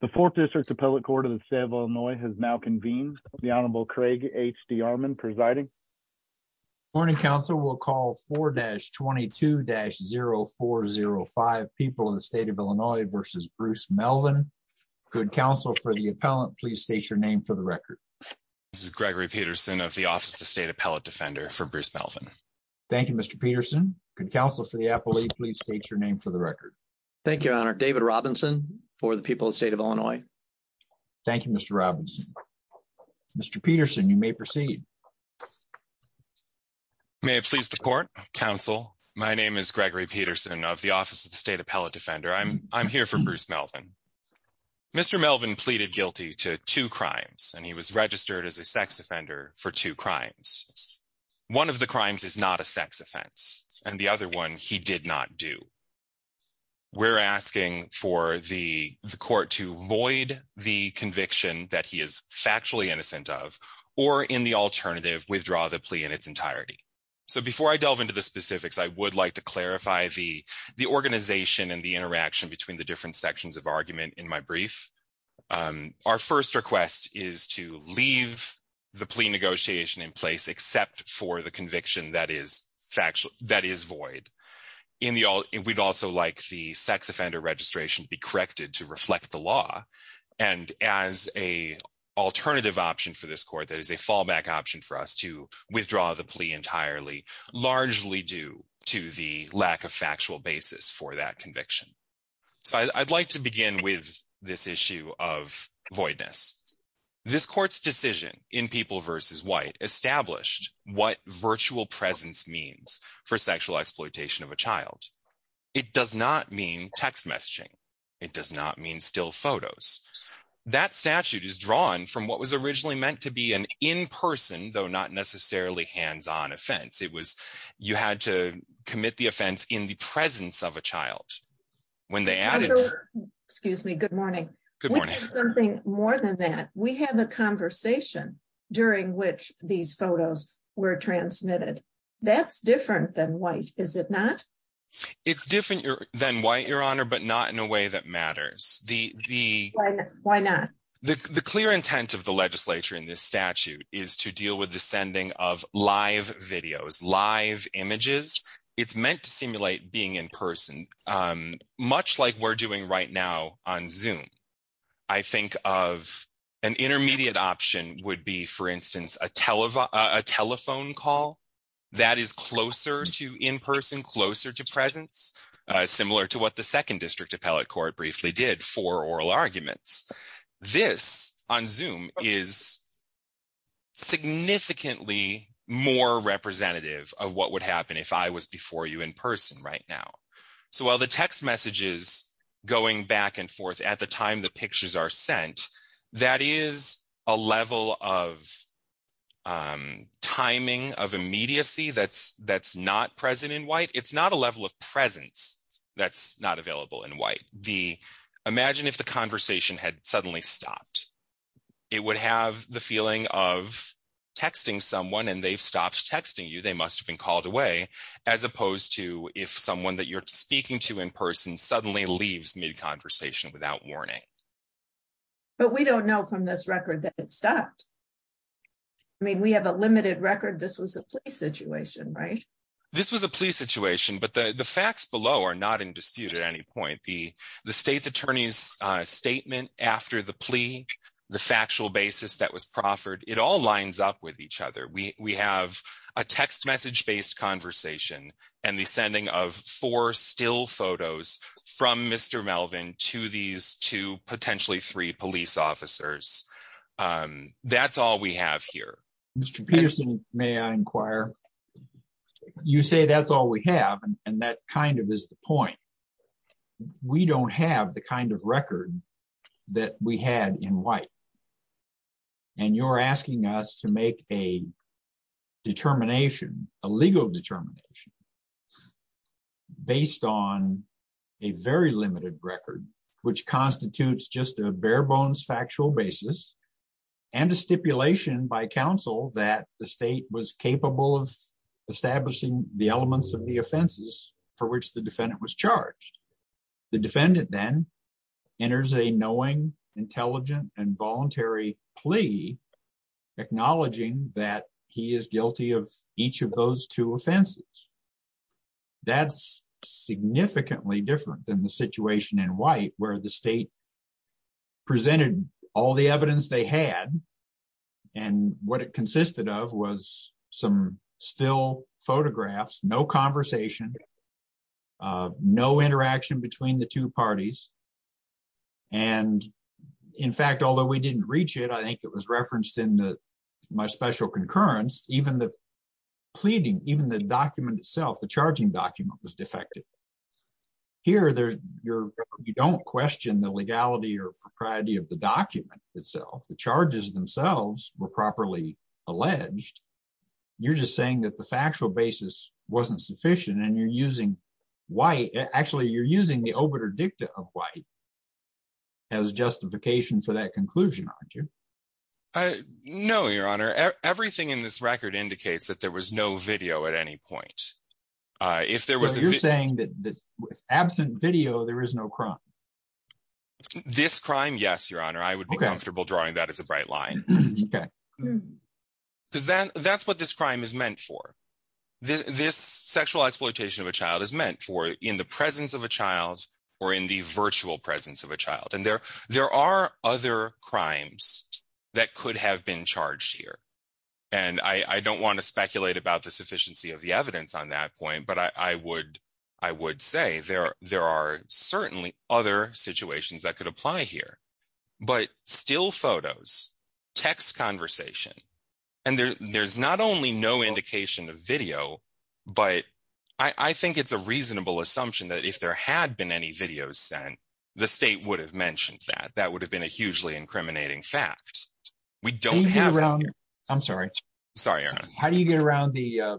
the fourth district appellate court of the state of illinois has now convened the honorable craig hd armand presiding morning council will call 4-22-0405 people in the state of illinois versus bruce melvin good counsel for the appellant please state your name for the record this is gregory peterson of the office of the state appellate defender for bruce melvin thank you mr peterson good counsel for the appellate please state your name for the record thank you honor david robinson for the people of the state of illinois thank you mr robinson mr peterson you may proceed may it please the court counsel my name is gregory peterson of the office of the state appellate defender i'm i'm here for bruce melvin mr melvin pleaded guilty to two crimes and he was registered as a sex offender for two crimes one of the crimes is not a sex offense and the we're asking for the the court to void the conviction that he is factually innocent of or in the alternative withdraw the plea in its entirety so before i delve into the specifics i would like to clarify the the organization and the interaction between the different sections of argument in my brief um our first request is to leave the plea negotiation in place except for the conviction that is factual that is void in the all we'd also like the sex offender registration to be corrected to reflect the law and as a alternative option for this court that is a fallback option for us to withdraw the plea entirely largely due to the lack of factual basis for that conviction so i'd like to begin with this issue of voidness this court's decision in people versus white established what virtual presence means for sexual exploitation of a child it does not mean text messaging it does not mean still photos that statute is drawn from what was originally meant to be an in-person though not necessarily hands-on offense it was you had to commit the offense in the presence of a child when they added excuse me good morning good morning something more than that we have a conversation during which these photos were transmitted that's different than white is it not it's different than white your honor but not in a way that matters the the why not the the clear intent of the legislature in this statute is to deal with the sending of live videos live images it's meant to simulate being in person um much like we're doing right now on zoom i think of an intermediate option would be for instance a telephone a telephone call that is closer to in person closer to presence similar to what the second district appellate court briefly did for oral arguments this on zoom is significantly more representative of what would happen if i was before you in person right now so while the text message is going back and forth at the time the pictures are sent that is a level of um timing of immediacy that's that's not present in white it's not a level of presence that's not available in white the imagine if the conversation had suddenly stopped it would have the feeling of texting someone and they've stopped texting you they must have been called away as opposed to if someone that you're speaking to in person suddenly leaves mid conversation without warning but we don't know from this record that it stopped i mean we have a limited record this was a police situation right this was a police situation but the the facts below are not in dispute at any point the the state's attorney's uh statement after the plea the factual basis that was proffered it all lines up we have a text message based conversation and the sending of four still photos from mr melvin to these two potentially three police officers um that's all we have here mr peterson may i inquire you say that's all we have and that kind of is the point we don't have the kind of record that we had in white and you're asking us to make a determination a legal determination based on a very limited record which constitutes just a bare bones factual basis and a stipulation by council that the state was capable of establishing the elements of the knowing intelligent and voluntary plea acknowledging that he is guilty of each of those two offenses that's significantly different than the situation in white where the state presented all the evidence they had and what it consisted of was some still photographs no conversation uh no interaction between the two parties and in fact although we didn't reach it i think it was referenced in the my special concurrence even the pleading even the document itself the charging document was defective here there's your you don't question the legality or propriety of the document itself the charges themselves were properly alleged you're just saying that the factual basis wasn't sufficient and you're using white actually you're using the obiter dicta of white as justification for that conclusion aren't you uh no your honor everything in this record indicates that there was no video at any point uh if there was you're saying that absent video there is no crime this crime yes your honor i would be comfortable drawing that as a bright line okay because that that's what this crime is meant for this this sexual exploitation of a child is meant for in the presence of a child or in the virtual presence of a child and there there are other crimes that could have been charged here and i i don't want to speculate about the sufficiency of the evidence on that point but i i would i would say there there are certainly other situations that could apply here but still photos text conversation and there there's not only no indication of video but i i think it's a reasonable assumption that if there had been any videos sent the state would have mentioned that that would have been a hugely incriminating fact we don't have around i'm sorry sorry how do you get around the uh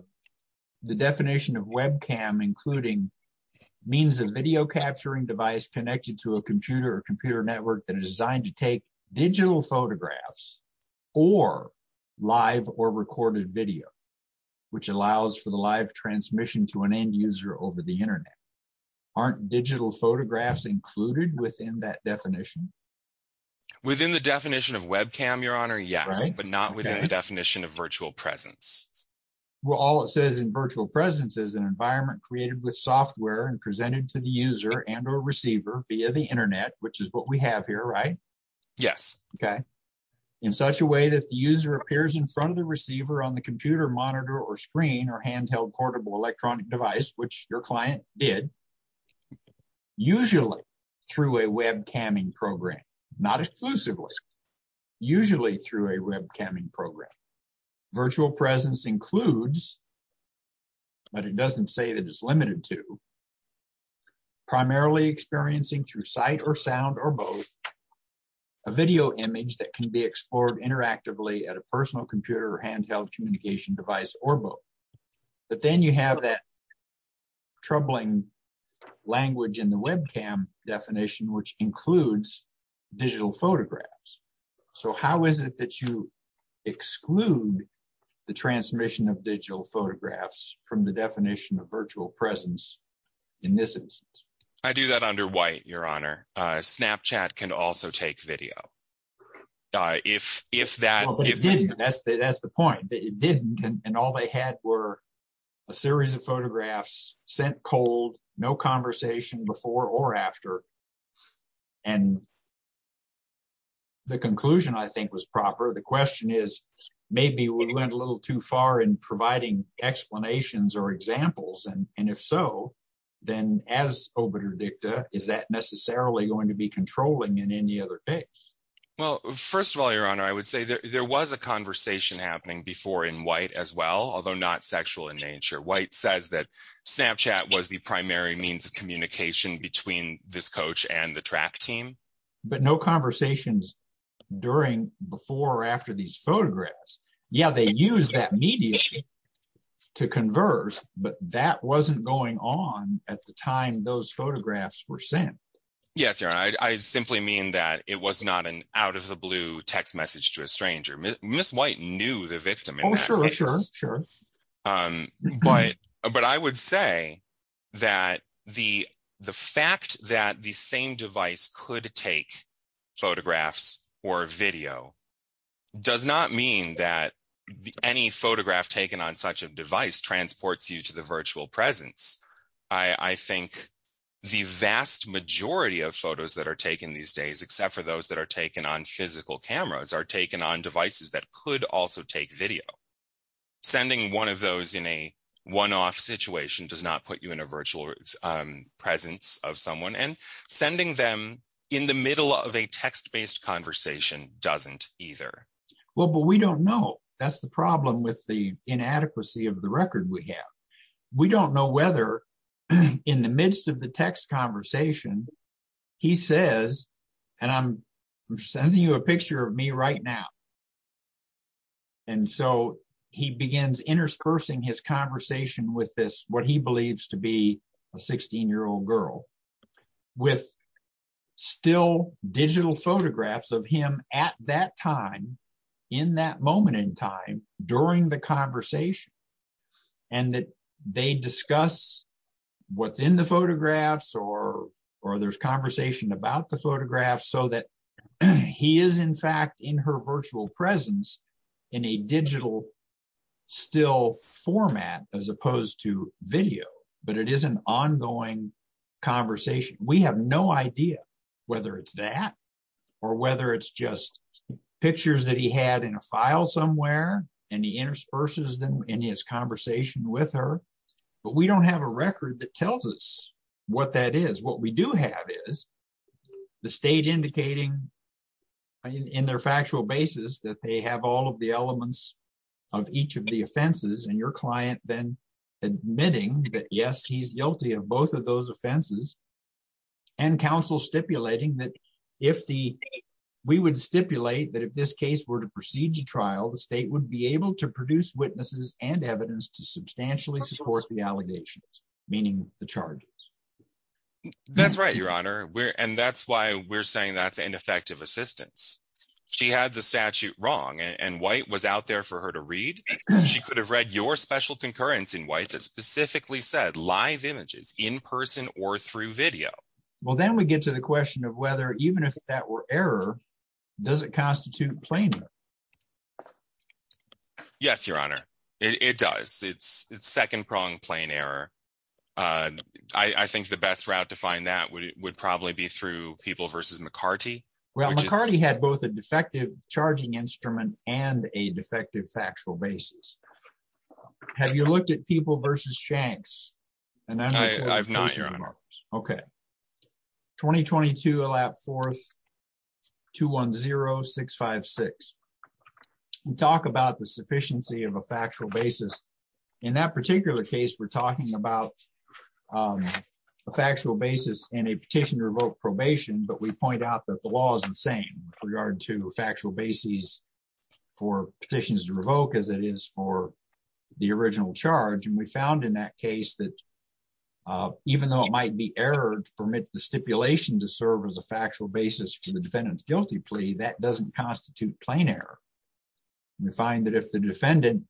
the definition of webcam including means of video capturing device connected to a computer or computer network that is designed to take digital photographs or live or recorded video which allows for the live transmission to an end user over the internet aren't digital photographs included within that definition within the definition of webcam your honor yes but not within the definition of virtual presence well all it says in virtual presence is an environment created with software and presented to the user and or receiver via the internet which is what we have here right yes okay in such a way that the user appears in front of the receiver on the computer monitor or screen or handheld portable electronic device which your client did usually through a web camming program not exclusively usually through a web camming program virtual presence includes but it doesn't say that it's limited to primarily experiencing through sight or sound or both a video image that can be explored interactively at a personal computer or handheld communication device or both but then you have that troubling language in the webcam definition which includes digital photographs so how is it that you exclude the transmission of digital photographs from the definition of virtual presence in this instance i do that under white your honor uh snapchat can also take video uh if if that that's the that's the point that it didn't and all they had were a series of photographs sent cold no conversation before or after and the conclusion i think was proper the question is maybe we went a little too far in providing explanations or examples and and if so then as obiter dicta is that necessarily going to be controlling in any other case well first of all your honor i would say there was a conversation happening before in white as well although not sexual in nature white says that snapchat was the primary means of communication between this coach and the track team but no conversations during before or after these photographs yeah they use that media to converse but that wasn't going on at the time those photographs were sent yes your honor i simply mean that it was not an out of the text message to a stranger miss white knew the victim oh sure sure um but but i would say that the the fact that the same device could take photographs or video does not mean that any photograph taken on such a device transports you to the virtual presence i i think the vast majority of photos that are taken these days except for those that are taken on physical cameras are taken on devices that could also take video sending one of those in a one-off situation does not put you in a virtual presence of someone and sending them in the middle of a text-based conversation doesn't either well but we don't know that's the problem with the inadequacy of record we have we don't know whether in the midst of the text conversation he says and i'm sending you a picture of me right now and so he begins interspersing his conversation with this what he believes to be a 16 year old girl with still digital photographs of him at that time in that moment in time during the conversation and that they discuss what's in the photographs or or there's conversation about the photographs so that he is in fact in her virtual presence in a digital still format as opposed to video but it is an ongoing conversation we have no idea whether it's that or whether it's just pictures that he had in a file somewhere and he intersperses them in his conversation with her but we don't have a record that tells us what that is what we do have is the state indicating in their factual basis that they have all of the elements of each of the offenses and your client then admitting that yes he's guilty of both of those offenses and counsel stipulating that if the we would stipulate that if this case were to proceed to trial the state would be able to produce witnesses and evidence to substantially support the allegations meaning the charges that's right your honor we're and that's why we're saying that's ineffective assistance she had the statute wrong and white was out there for her to read she could have read your special concurrence in white that specifically said live images in person or through video well then we get to the question of whether even if that were error does it constitute plainer yes your honor it does it's it's second prong plain error uh i i think the best route to find that would probably be through people versus mccarty well mccarty had both a defective charging instrument and a defective factual basis have you looked at people versus shanks and i'm not sure okay 2022 a lap forth 210-656 we talk about the sufficiency of a factual basis in that particular case we're talking about um a factual basis in a petition to revoke probation but we point out that the original charge and we found in that case that even though it might be errored to permit the stipulation to serve as a factual basis for the defendant's guilty plea that doesn't constitute plain error we find that if the defendant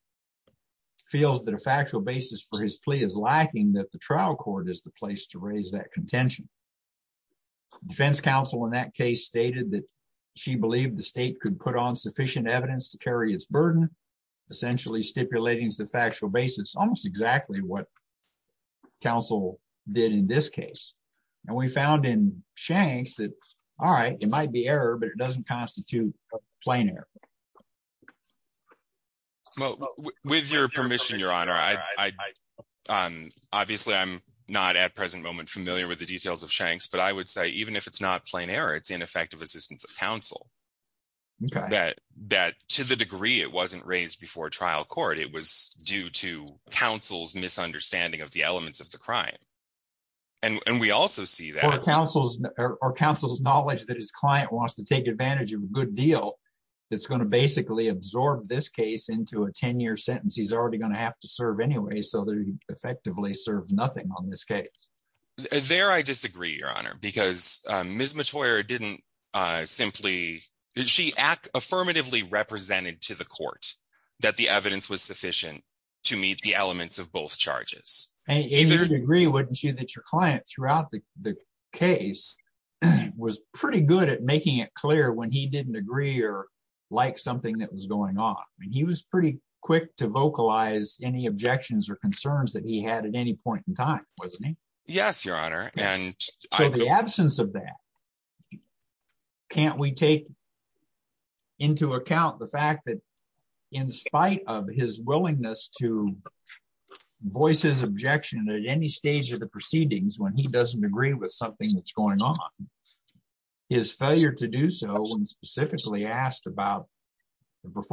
feels that a factual basis for his plea is lacking that the trial court is the place to raise that contention defense counsel in that case stated that she believed the state could put on sufficient evidence to carry its burden essentially stipulating as the factual basis almost exactly what counsel did in this case and we found in shanks that all right it might be error but it doesn't constitute a plain error well with your permission your honor i i um obviously i'm not at present moment familiar with the details of shanks but i would say even if it's not plain error it's of counsel okay that that to the degree it wasn't raised before trial court it was due to counsel's misunderstanding of the elements of the crime and and we also see that or counsel's or counsel's knowledge that his client wants to take advantage of a good deal that's going to basically absorb this case into a 10-year sentence he's already going to have to serve anyway so they effectively serve nothing on this case there i disagree your honor because um ms matoyer didn't simply did she act affirmatively represented to the court that the evidence was sufficient to meet the elements of both charges and in your degree wouldn't you that your client throughout the the case was pretty good at making it clear when he didn't agree or like something that was going on and he was pretty quick to vocalize any objections or concerns that he had at any point wasn't he yes your honor and so the absence of that can't we take into account the fact that in spite of his willingness to voice his objection at any stage of the proceedings when he doesn't agree with something that's going on his failure to do so when specifically asked about the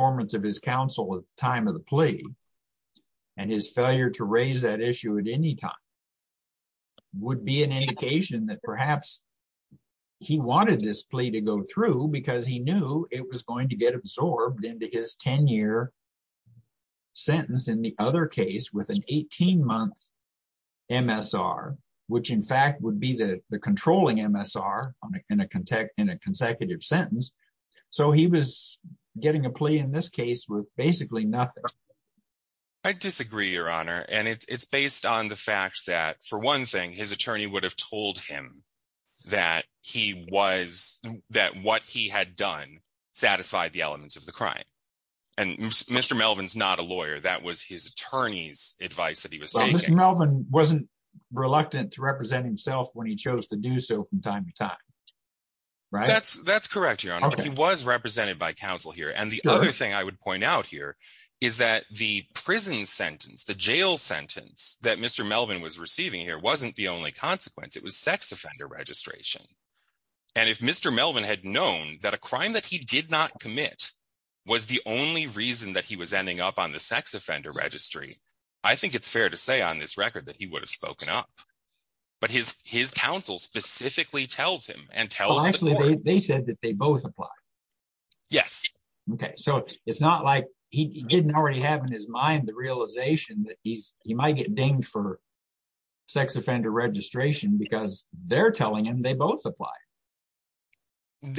would be an indication that perhaps he wanted this plea to go through because he knew it was going to get absorbed into his 10-year sentence in the other case with an 18-month msr which in fact would be the the controlling msr in a context in a consecutive sentence so he was getting a plea in this case with basically nothing i disagree your honor and it's based on the fact that for one thing his attorney would have told him that he was that what he had done satisfied the elements of the crime and mr melvin's not a lawyer that was his attorney's advice that he was mr melvin wasn't reluctant to represent himself when he chose to do so from time to time right that's that's correct your honor he was represented by counsel here and the other i would point out here is that the prison sentence the jail sentence that mr melvin was receiving here wasn't the only consequence it was sex offender registration and if mr melvin had known that a crime that he did not commit was the only reason that he was ending up on the sex offender registry i think it's fair to say on this record that he would have spoken up but his his counsel specifically tells him and tells actually they said that they both apply yes okay so it's not like he didn't already have in his mind the realization that he's he might get dinged for sex offender registration because they're telling him they both apply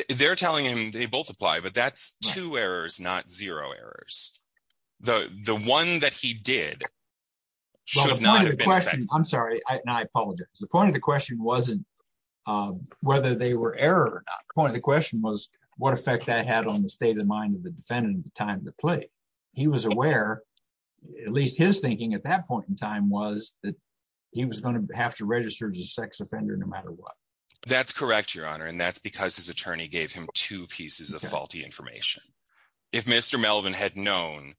they're telling him they both apply but that's two errors not zero errors the the one that he did i'm sorry i apologize the point of the question wasn't um whether they were error or not the question was what effect that had on the state of mind of the defendant at the time of the play he was aware at least his thinking at that point in time was that he was going to have to register as a sex offender no matter what that's correct your honor and that's because his attorney gave him two pieces of faulty information if mr melvin had known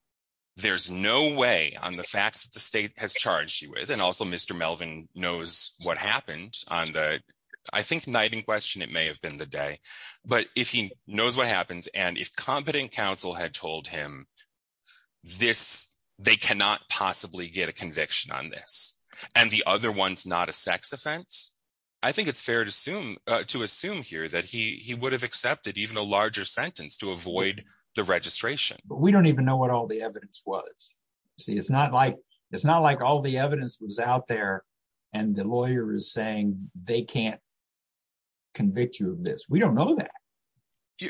there's no way on the facts that the state has charged you with and also mr melvin knows what happened on the i think night in question it may have been the day but if he knows what happens and if competent counsel had told him this they cannot possibly get a conviction on this and the other one's not a sex offense i think it's fair to assume uh to assume here that he he would have accepted even a larger sentence to avoid the registration but we don't even know what all the evidence was see it's not like it's not like all the evidence was out there and the lawyer is saying they can't convict you of this we don't know that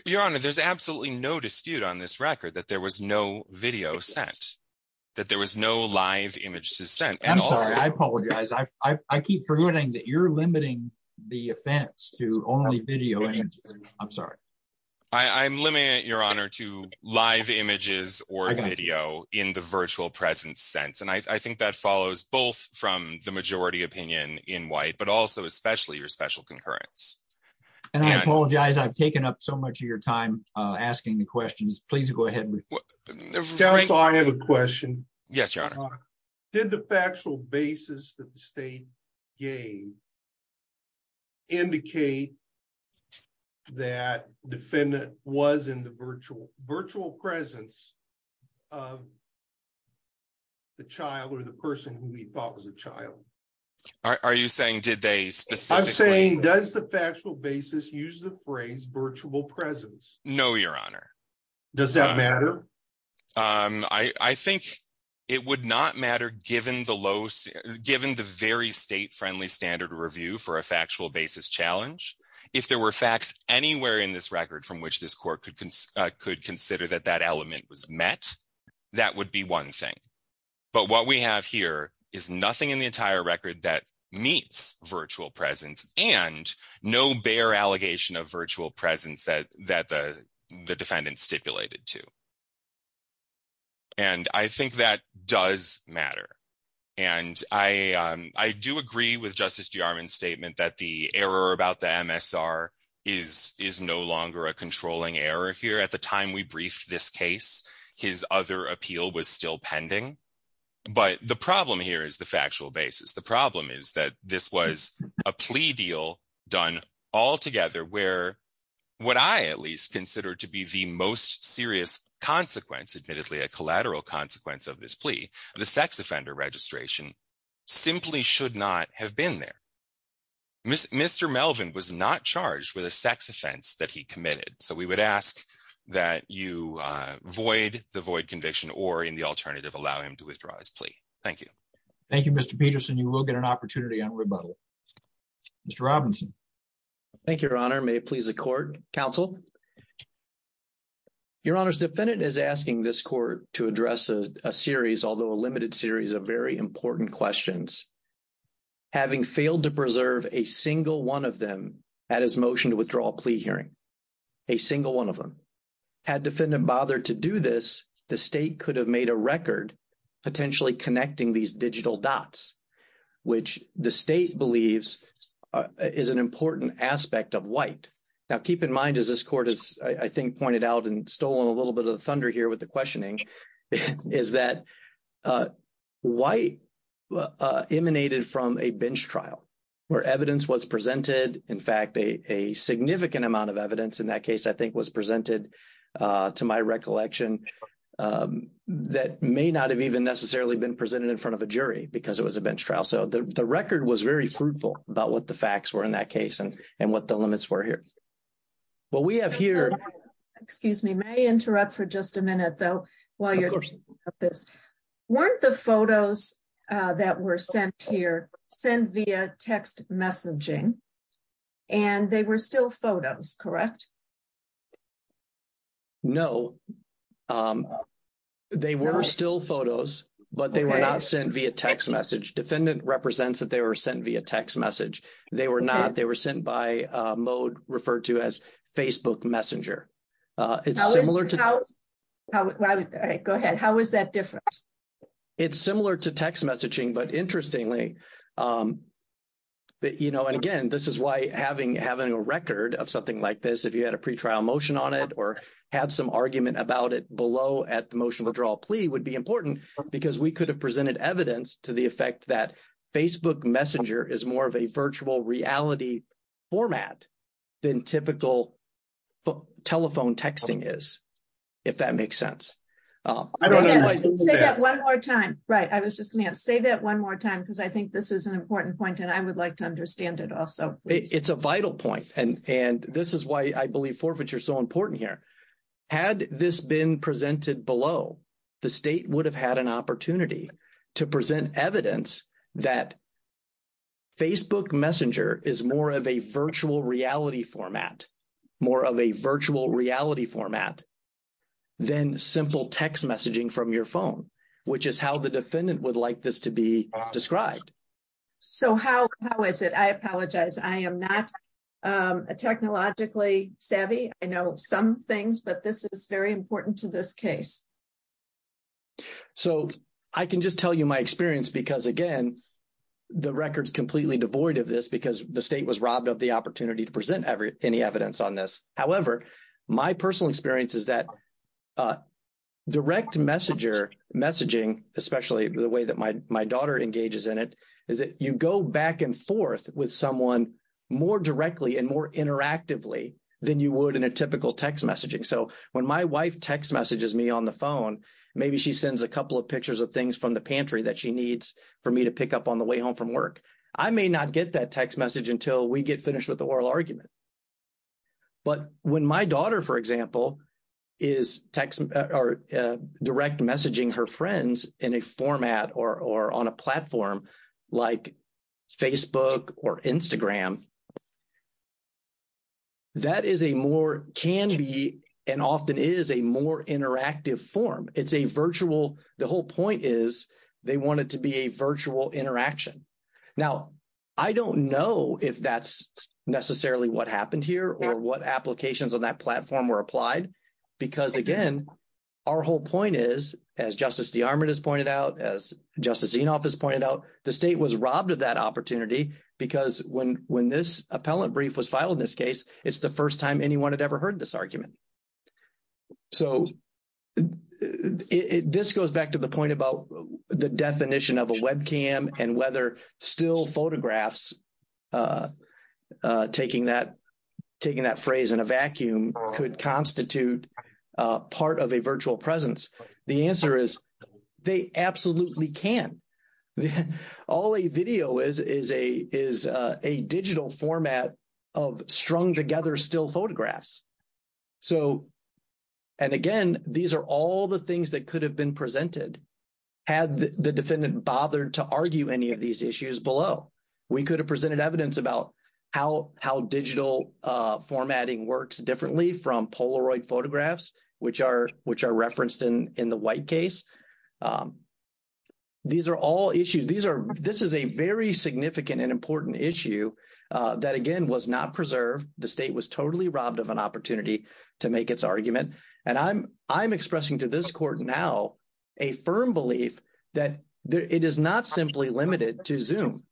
your honor there's absolutely no dispute on this record that there was no video sent that there was no live image to send i'm sorry i apologize i i keep forgetting that you're limiting the offense to only video i'm sorry i i'm limiting it your honor to live images or video in the virtual presence sense i think that follows both from the majority opinion in white but also especially your special concurrence and i apologize i've taken up so much of your time uh asking the questions please go ahead with so i have a question yes your honor did the factual basis that the state gave indicate that defendant was in the virtual virtual presence of the child or the person who he thought was a child are you saying did they specifically i'm saying does the factual basis use the phrase virtual presence no your honor does that matter um i i think it would not matter given the low given the very state-friendly standard review for a factual basis challenge if there were facts anywhere in this record from which this court could consider that that element was met that would be one thing but what we have here is nothing in the entire record that meets virtual presence and no bare allegation of virtual presence that that the the defendant stipulated to and i think that does matter and i um i do agree with justice de armand's statement that the error about the msr is is no longer a controlling error here at the time we briefed this case his other appeal was still pending but the problem here is the factual least considered to be the most serious consequence admittedly a collateral consequence of this plea the sex offender registration simply should not have been there mr melvin was not charged with a sex offense that he committed so we would ask that you uh void the void conviction or in the alternative allow him to withdraw his plea thank you thank you mr peterson you will get an your honor's defendant is asking this court to address a series although a limited series of very important questions having failed to preserve a single one of them at his motion to withdraw a plea hearing a single one of them had defendant bothered to do this the state could have made a record potentially connecting these digital dots which the state believes is an important aspect of white now keep in mind as this court is i think pointed out and stole a little bit of the thunder here with the questioning is that uh white uh emanated from a bench trial where evidence was presented in fact a a significant amount of evidence in that case i think was presented uh to my recollection um that may not have even necessarily been presented in front of a jury because it was a bench trial so the the record was very fruitful about what the facts were in that and and what the limits were here well we have here excuse me may interrupt for just a minute though while you're talking about this weren't the photos uh that were sent here sent via text messaging and they were still photos correct no um they were still photos but they were not sent via text message defendant represents that they were sent via text message they were not they were sent by uh mode referred to as facebook messenger uh it's similar to go ahead how is that different it's similar to text messaging but interestingly um but you know and again this is why having having a record of something like this if you had a pre-trial motion on it or had some argument about it below at the motion withdrawal plea would be important because we could have presented evidence to the effect that facebook messenger is more of a virtual reality format than typical telephone texting is if that makes sense say that one more time right i was just gonna say that one more time because i think this is an important point and i would like to understand it also it's a vital point and and this is why i believe forfeiture is so important here had this been presented below the state would have had an opportunity to present evidence that facebook messenger is more of a virtual reality format more of a virtual reality format than simple text messaging from your phone which is how the defendant would like this to be described so how how is it i apologize i am not a technologically savvy i know some things but this is very important to this case so i can just tell you my experience because again the record's completely devoid of this because the state was robbed of the opportunity to present every any evidence on this however my personal experience is that uh direct messenger messaging especially the way that my my daughter engages in it is that you go back and forth with someone more directly and more interactively than you would in a typical text messaging so when my wife text messages me on the phone maybe she sends a couple of pictures of things from the pantry that she needs for me to pick up on the way home from work i may not get that text message until we get finished with the oral argument but when my daughter for example is text or direct messaging her friends in a format or or on a platform like facebook or instagram that is a more can be and often is a more interactive form it's a virtual the whole point is they want it to be a virtual interaction now i don't know if that's necessarily what happened here or what applications on that platform were applied because again our whole point is as justice de armand has pointed out as justice zinoff has pointed out the state was robbed of that opportunity because when when this appellate brief was filed in this case it's the first time anyone had ever heard this argument so it this goes back to the point about the definition of a webcam and whether still photographs uh uh taking that taking that the answer is they absolutely can all a video is is a is a digital format of strung together still photographs so and again these are all the things that could have been presented had the defendant bothered to argue any of these issues below we could have presented evidence about how how digital uh formatting works differently from polaroid photographs which are which are referenced in in the white case um these are all issues these are this is a very significant and important issue uh that again was not preserved the state was totally robbed of an opportunity to make its argument and i'm i'm expressing to this court now a firm belief that it is not simply limited to zoom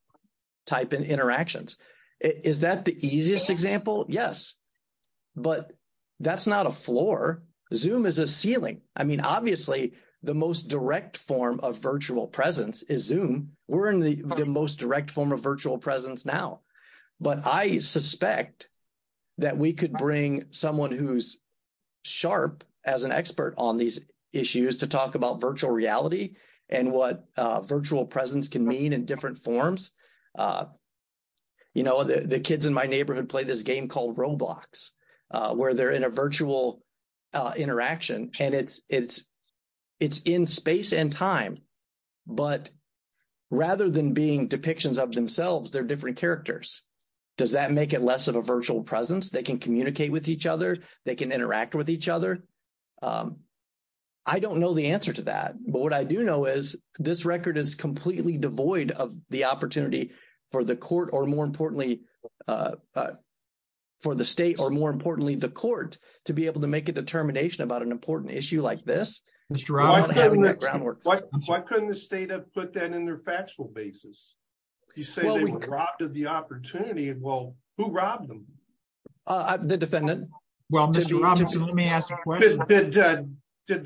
type in interactions is that the easiest example yes but that's not a floor zoom is a ceiling i mean obviously the most direct form of virtual presence is zoom we're in the the most direct form of virtual presence now but i suspect that we could bring someone who's sharp as an expert on these issues to talk about virtual reality and what uh virtual presence can mean in different forms uh you know the kids in my neighborhood play this game called roblox uh where they're in a virtual uh interaction and it's it's it's in space and time but rather than being depictions of themselves they're different characters does that make it less of a virtual presence they can communicate with each other they can interact with each other i don't know the answer to that but what i do know is this record is completely devoid of the opportunity for the court or more importantly uh for the state or more importantly the court to be able to make a determination about an important issue like this mr why couldn't the state have put that in their factual basis you say they were robbed of the opportunity well who robbed them uh the defendant well did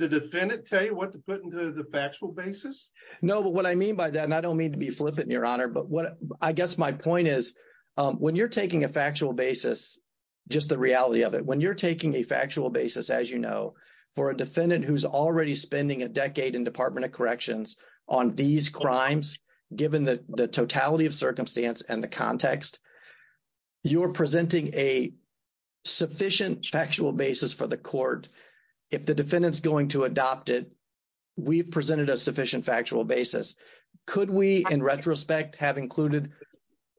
the defendant tell you what to put into the factual basis no but what i mean by that and i don't mean to be flippant your honor but what i guess my point is um when you're taking a factual basis just the reality of it when you're taking a factual basis as you know for a defendant who's already spending a decade in department of corrections on these crimes given the the totality of circumstance and the context you're presenting a sufficient factual basis for the retrospect have included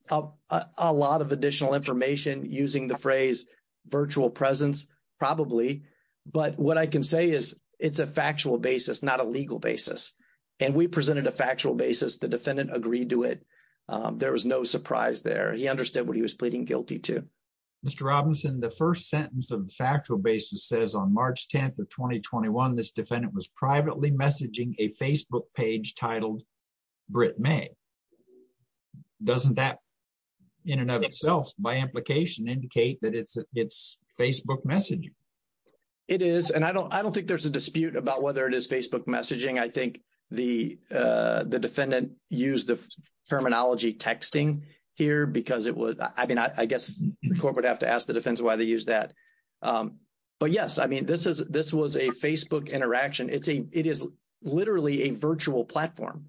a lot of additional information using the phrase virtual presence probably but what i can say is it's a factual basis not a legal basis and we presented a factual basis the defendant agreed to it there was no surprise there he understood what he was pleading guilty to mr robinson the first sentence of the factual basis says on march 10th of 2021 this defendant was privately messaging a facebook page titled brit may doesn't that in and of itself by implication indicate that it's it's facebook messaging it is and i don't i don't think there's a dispute about whether it is facebook messaging i think the uh the defendant used the terminology texting here because it was i mean i guess the court would have to ask the defense why they use that um but yes i mean this is this was a facebook interaction it's a it is literally a virtual platform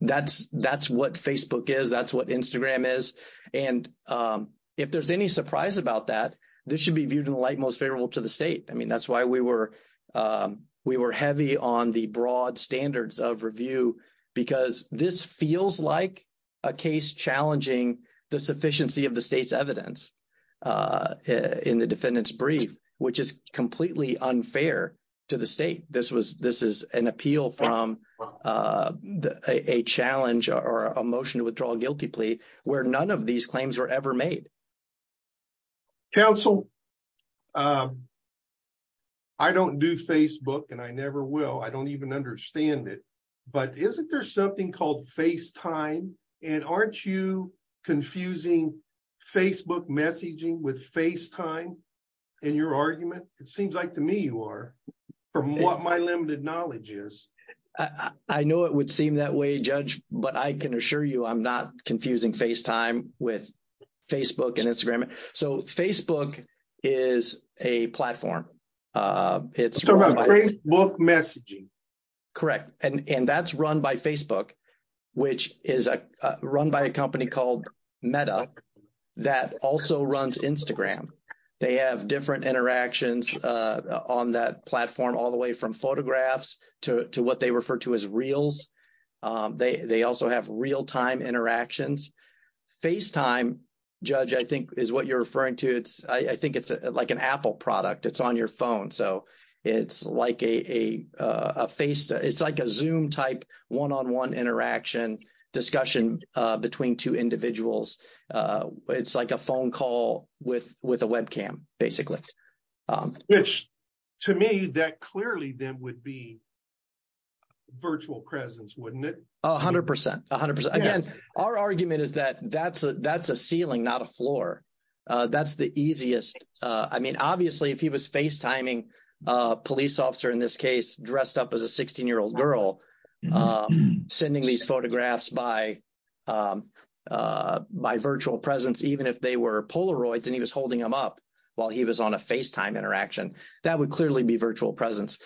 that's that's what facebook is that's what instagram is and um if there's any surprise about that this should be viewed in the light most favorable to the state i mean that's why we were um we were heavy on the broad standards of review because this feels like a case challenging the sufficiency of the state's evidence in the defendant's brief which is completely unfair to the state this was this is an appeal from uh a challenge or a motion to withdraw a guilty plea where none of these claims were ever made counsel um i don't do facebook and i never will i don't even understand it but isn't there called facetime and aren't you confusing facebook messaging with facetime in your argument it seems like to me you are from what my limited knowledge is i i know it would seem that way judge but i can assure you i'm not confusing facetime with facebook and instagram so facebook is a platform uh it's about great book messaging correct and and that's run by facebook which is a run by a company called meta that also runs instagram they have different interactions uh on that platform all the way from photographs to to what they refer to as reels um they also have real-time interactions facetime judge i think is what you're referring to it's i think it's like an apple product it's on your phone so it's like a a uh a face it's like a zoom type one-on-one interaction discussion uh between two individuals uh it's like a phone call with with a webcam basically um which to me that clearly then would be virtual presence wouldn't it a hundred percent a hundred percent again our argument is that that's a that's a ceiling not a floor uh that's the easiest uh i mean obviously if he was facetiming a police officer in this case dressed up as a 16-year-old girl um sending these photographs by um uh by virtual presence even if they were polaroids and he was holding them up while he was on a facetime interaction that would clearly be virtual presence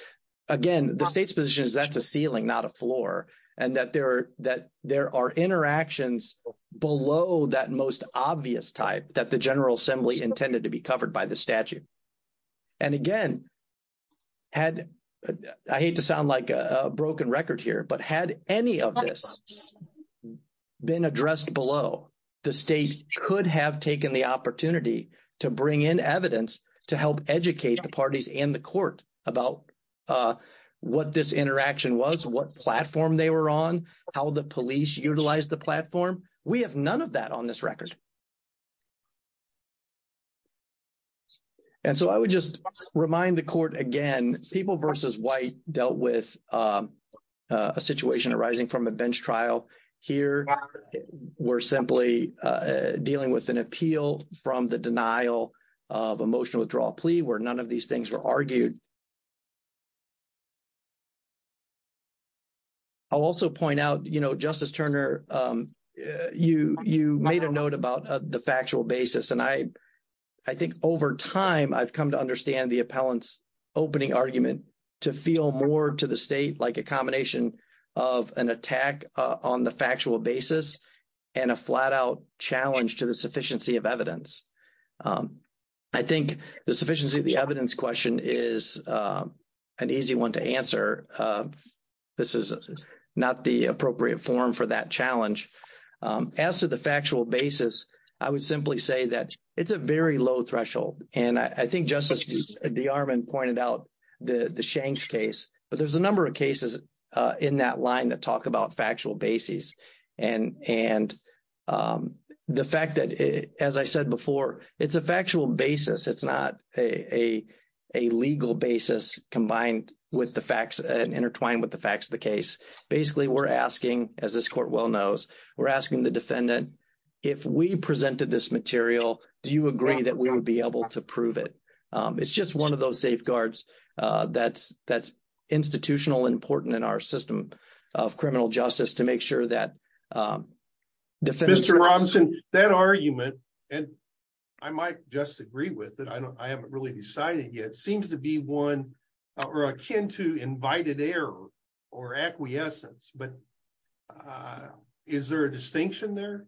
again the state's position is that's a ceiling not a floor and that there are that there are interactions below that most obvious type that the general assembly intended to be covered by the statute and again had i hate to sound like a broken record here but had any of this been addressed below the state could have taken the opportunity to bring in evidence to help educate the parties and the court about uh what this interaction was what platform they were on how the police utilized the platform we have none of that on this record and so i would just remind the court again people versus white dealt with um a situation arising from a bench trial here we're simply uh dealing with an appeal from the denial of emotional withdrawal plea where none of these things were argued i'll also point out you know justice turner um you you made a note about the factual basis and i i think over time i've come to understand the appellant's opening argument to feel more to the state like a combination of an attack on the factual basis and a flat-out challenge to sufficiency of evidence i think the sufficiency of the evidence question is an easy one to answer this is not the appropriate form for that challenge as to the factual basis i would simply say that it's a very low threshold and i think justice de armand pointed out the the shanks case but there's a number of cases uh in that line that talk about factual bases and and um the fact that as i said before it's a factual basis it's not a a legal basis combined with the facts and intertwined with the facts of the case basically we're asking as this court well knows we're asking the defendant if we presented this material do you agree that we would be able to prove it um it's just one of those safeguards uh that's that's institutional important in our system of criminal justice to make sure that um mr robson that argument and i might just agree with that i don't i haven't really decided yet seems to be one or akin to invited error or acquiescence but uh is there a distinction there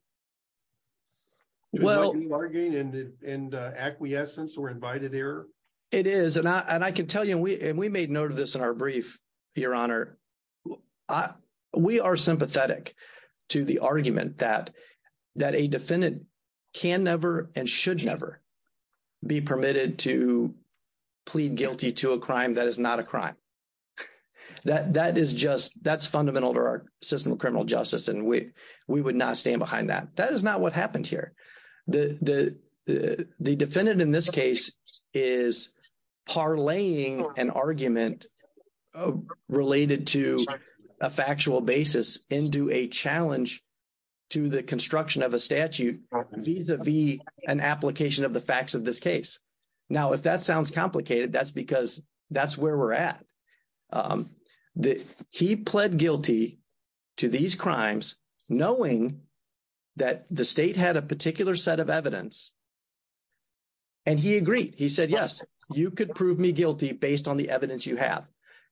well are you arguing in the in the acquiescence or invited error it is and i and i can tell you we and we made note of this in our brief your honor i we are sympathetic to the argument that that a defendant can never and should never be permitted to plead guilty to a crime that is not a crime that that is just that's fundamental to our system of criminal justice and we we would not stand behind that that is not what happened the the the defendant in this case is parlaying an argument related to a factual basis into a challenge to the construction of a statute vis-a-vis an application of the facts of this case now if that sounds complicated that's because that's where we're at um the he pled guilty to these crimes knowing that the state had a particular set of evidence and he agreed he said yes you could prove me guilty based on the evidence you have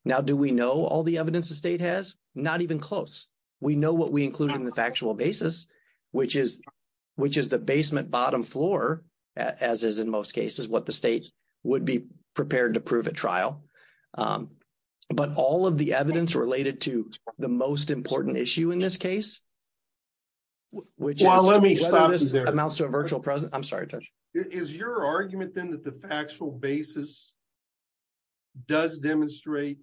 now do we know all the evidence the state has not even close we know what we include in the factual basis which is which is the basement bottom floor as is in most cases what the state would be prepared to prove at trial um but all of the evidence related to the most important issue in this case which is let me start this amounts to a virtual present i'm sorry touch is your argument then that the factual basis does demonstrate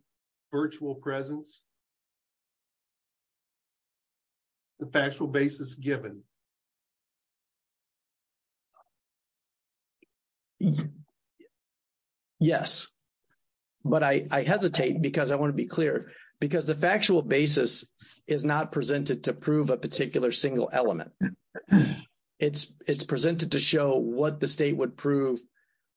virtual presence the factual basis given yes but i i hesitate because i want to be clear because the factual basis is not presented to prove a particular single element it's it's presented to show what the state would prove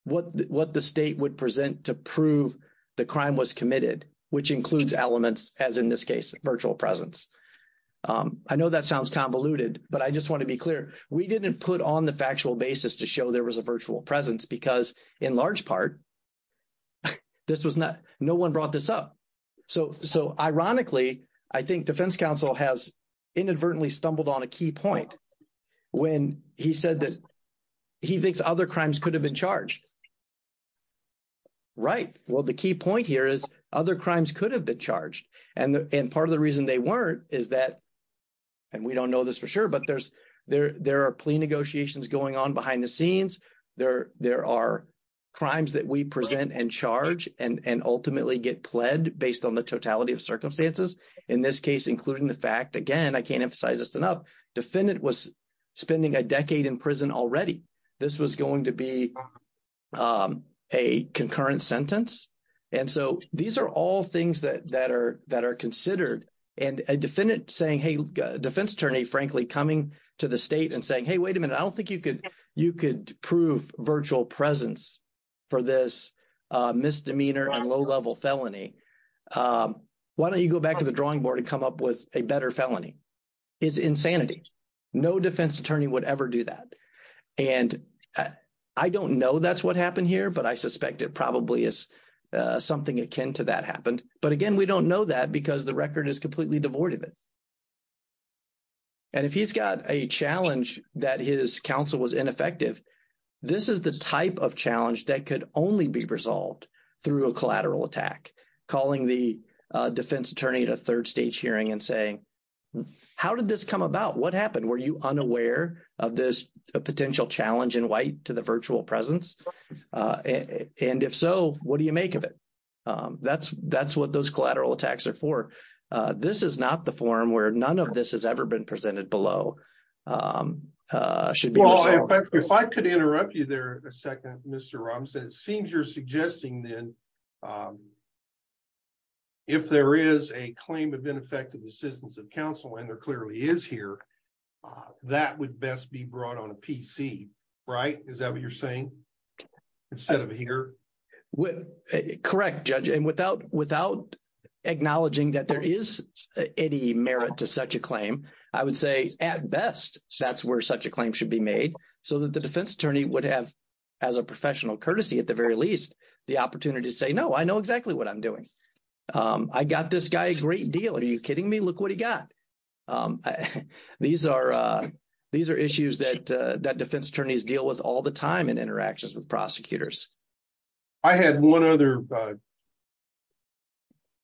what what the state would present to prove the crime was committed which includes elements as in this case virtual presence um i know that sounds convoluted but i just want to be clear we didn't put on the factual basis to show there was a virtual presence because in large part this was not no one brought this up so so ironically i think defense counsel has inadvertently stumbled on a key point when he said that he thinks other crimes could have been charged right well the key point here is other crimes could have been charged and and part of the reason they weren't is that and we don't know this for sure but there's there there are plea negotiations going on behind the scenes there there are crimes that we present and charge and and ultimately get pled based on the totality of circumstances in this case including the fact again i can't emphasize this enough defendant was spending a decade in prison already this was going to be um a concurrent sentence and so these are all things that that are that are considered and a defendant saying hey defense attorney frankly coming to the state and saying hey wait a minute i don't think you could you could prove virtual presence for this uh misdemeanor and low-level felony um why don't you go back to the drawing board and come up with a better felony is insanity no defense attorney would ever do that and i don't know that's what happened here but i suspect it probably is something akin to that happened but again we don't know that because the record is completely devoid of it and if he's got a challenge that his counsel was ineffective this is the type of challenge that could only be resolved through a collateral attack calling the defense attorney a third stage hearing and saying how did this come about what happened were you unaware of this potential challenge in white to the virtual presence uh and if so what do you make of it um that's that's what those collateral attacks are for uh this is not the forum where none of this has ever been presented below um uh should be if i could interrupt you there a second mr rom said it seems you're suggesting then um if there is a claim of ineffective assistance of counsel and there clearly is here uh that would best be brought on a pc right is that what you're saying instead of here with correct judge and without without acknowledging that there is any merit to such a claim i would say at best that's where such a claim should be made so that defense attorney would have as a professional courtesy at the very least the opportunity to say no i know exactly what i'm doing um i got this guy a great deal are you kidding me look what he got um these are uh these are issues that uh that defense attorneys deal with all the time in interactions with prosecutors i had one other uh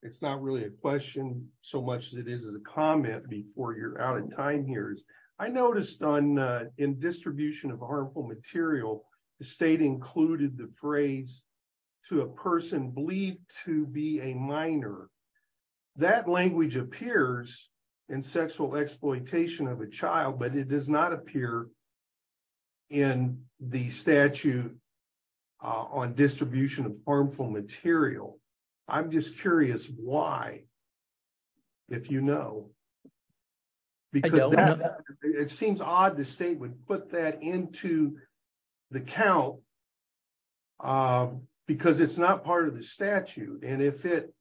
it's not really a question so much as it is a comment before you're out of time here's i noticed on uh in distribution of harmful material the state included the phrase to a person believed to be a minor that language appears in sexual exploitation of a child but it does not appear in the statute uh on distribution of harmful material i'm just curious why if you know because it seems odd the state would put that into the count um because it's not part of the statute and if it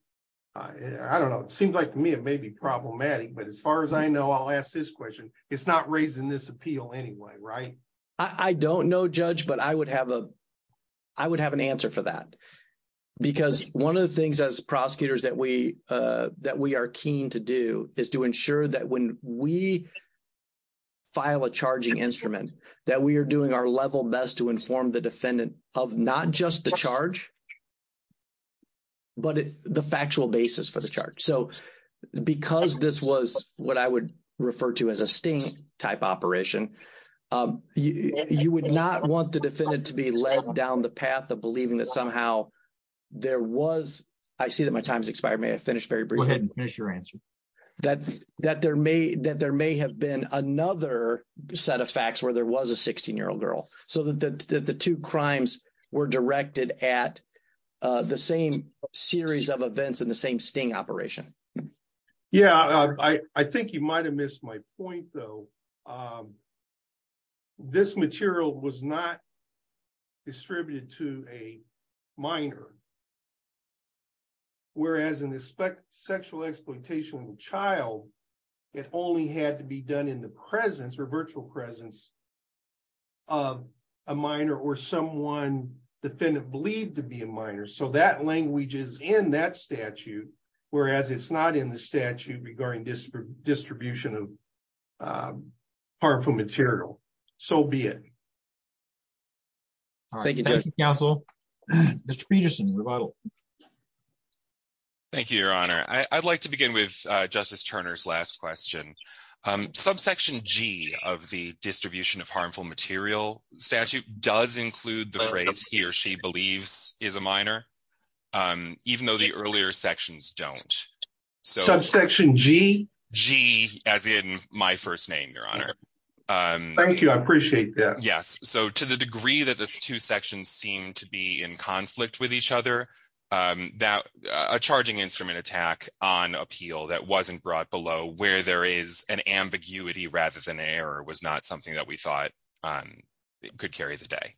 i don't know it seems like to me it may be problematic but as far as i know i'll ask this question it's not raising this appeal anyway right i i don't know judge but i would have a i would have an answer for that because one of the things as prosecutors that we uh that we are keen to do is to ensure that when we file a charging instrument that we are doing our level best to inform the defendant of not just the charge but the factual basis for the charge so because this was what i would refer to as a sting type operation um you you would not want the defendant to be led down the path of believing that somehow there was i see that my time has expired may i finish very briefly finish your answer that that there may that there may have been another set of facts where there was a 16 year old girl so that the the two crimes were directed at uh the same series of events in the same sting operation yeah i i think you might have missed my point though um this material was not distributed to a minor whereas in the sexual exploitation of a child it only had to be done in the presence or virtual presence of a minor or someone defendant believed to be a minor so that is in that statute whereas it's not in the statute regarding distribution of harmful material so be it all right thank you counsel mr peterson rebuttal thank you your honor i i'd like to begin with uh justice turner's last question um subsection g of the distribution of harmful material statute does include the phrase he or she believes is a minor um even though the earlier sections don't so subsection g g as in my first name your honor um thank you i appreciate that yes so to the degree that this two sections seem to be in conflict with each other um that a charging instrument attack on appeal that wasn't brought below where there is an ambiguity rather than an error was not something that we thought um could carry the day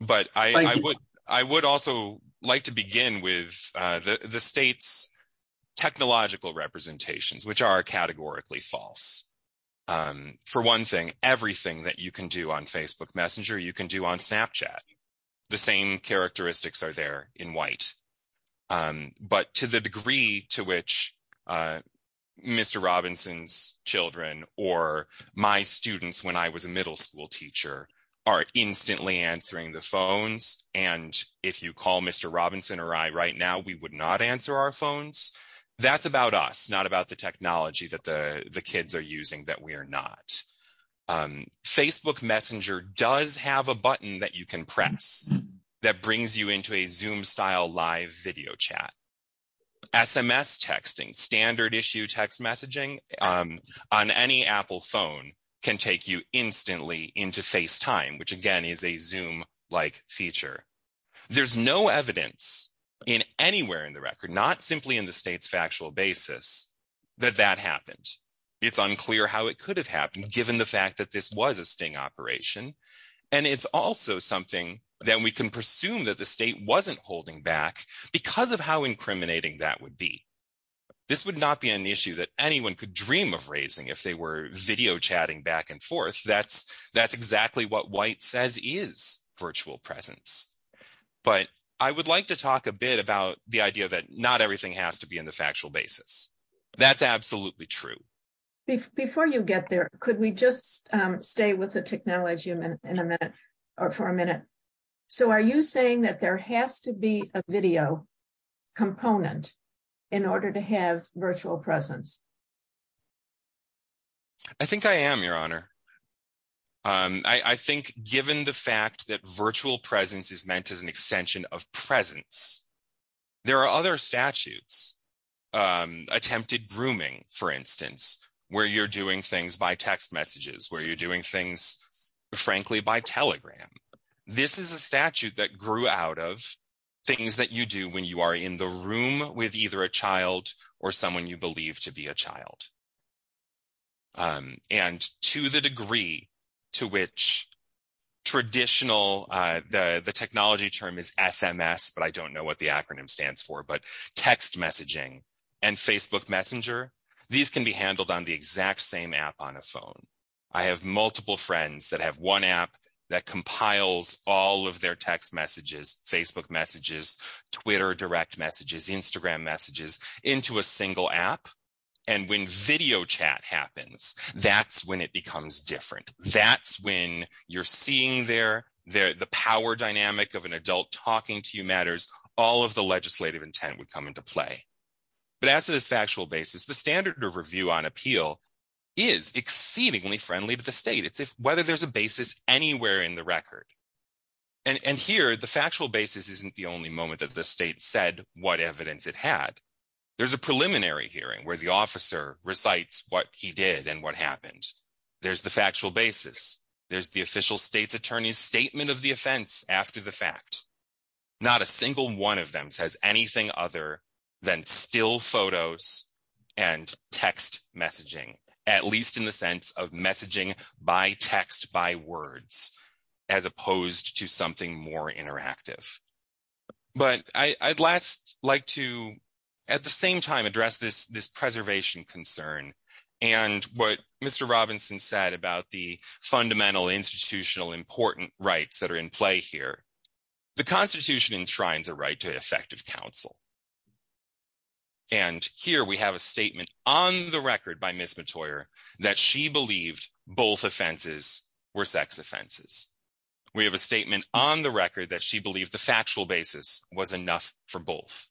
but i i would i would also like to begin with uh the the state's technological representations which are categorically false um for one thing everything that you can do on facebook messenger you can do on snapchat the same characteristics are there in white um but to the degree to which uh mr robinson's children or my students when i was middle school teacher are instantly answering the phones and if you call mr robinson or i right now we would not answer our phones that's about us not about the technology that the the kids are using that we are not um facebook messenger does have a button that you can press that brings you into a zoom style live video chat sms texting standard issue text messaging um on any apple phone can take you instantly into facetime which again is a zoom like feature there's no evidence in anywhere in the record not simply in the state's factual basis that that happened it's unclear how it could have happened given the fact that this was a sting operation and it's also something that we can presume that the state wasn't holding back because of how incriminating that would be this would not be an issue that anyone could dream of raising if they were video chatting back and forth that's that's exactly what white says is virtual presence but i would like to talk a bit about the idea that not everything has to be in the factual basis that's absolutely true before you get there could we just um stay with the technology in a minute or for a minute so are you saying that there has to be a video component in order to have virtual presence i think i am your honor um i i think given the fact that virtual presence is meant as an extension of presence there are other statutes um attempted grooming for instance where you're doing things by text messages where you're doing things frankly by telegram this is a statute that grew out of things that you do when you are in the room with either a child or someone you believe to be a child um and to the degree to which traditional uh the the technology term is sms but i don't know what the acronym stands for but text messaging and facebook messenger these can be handled on the exact same app on a phone i have multiple friends that have one app that compiles all of their text messages facebook messages twitter direct messages instagram messages into a single app and when video chat happens that's when it becomes different that's when you're seeing their their the power dynamic of an adult talking to you matters all of the on appeal is exceedingly friendly to the state it's if whether there's a basis anywhere in the record and and here the factual basis isn't the only moment that the state said what evidence it had there's a preliminary hearing where the officer recites what he did and what happened there's the factual basis there's the official state's attorney's statement of the offense after the fact not a single one of them says anything other than still photos and text messaging at least in the sense of messaging by text by words as opposed to something more interactive but i i'd last like to at the same time address this this preservation concern and what mr robinson said about the fundamental institutional important rights that are in play here the constitution enshrines a right to effective counsel and here we have a statement on the record by miss matoyer that she believed both offenses were sex offenses we have a statement on the record that she believed the factual basis was enough for both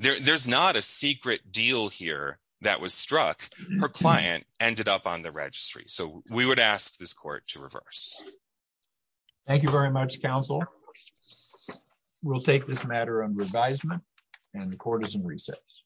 there there's not a secret deal here that was struck her client ended up on the registry so we would ask this court to reverse this thank you very much counsel we'll take this matter under advisement and the court is in recess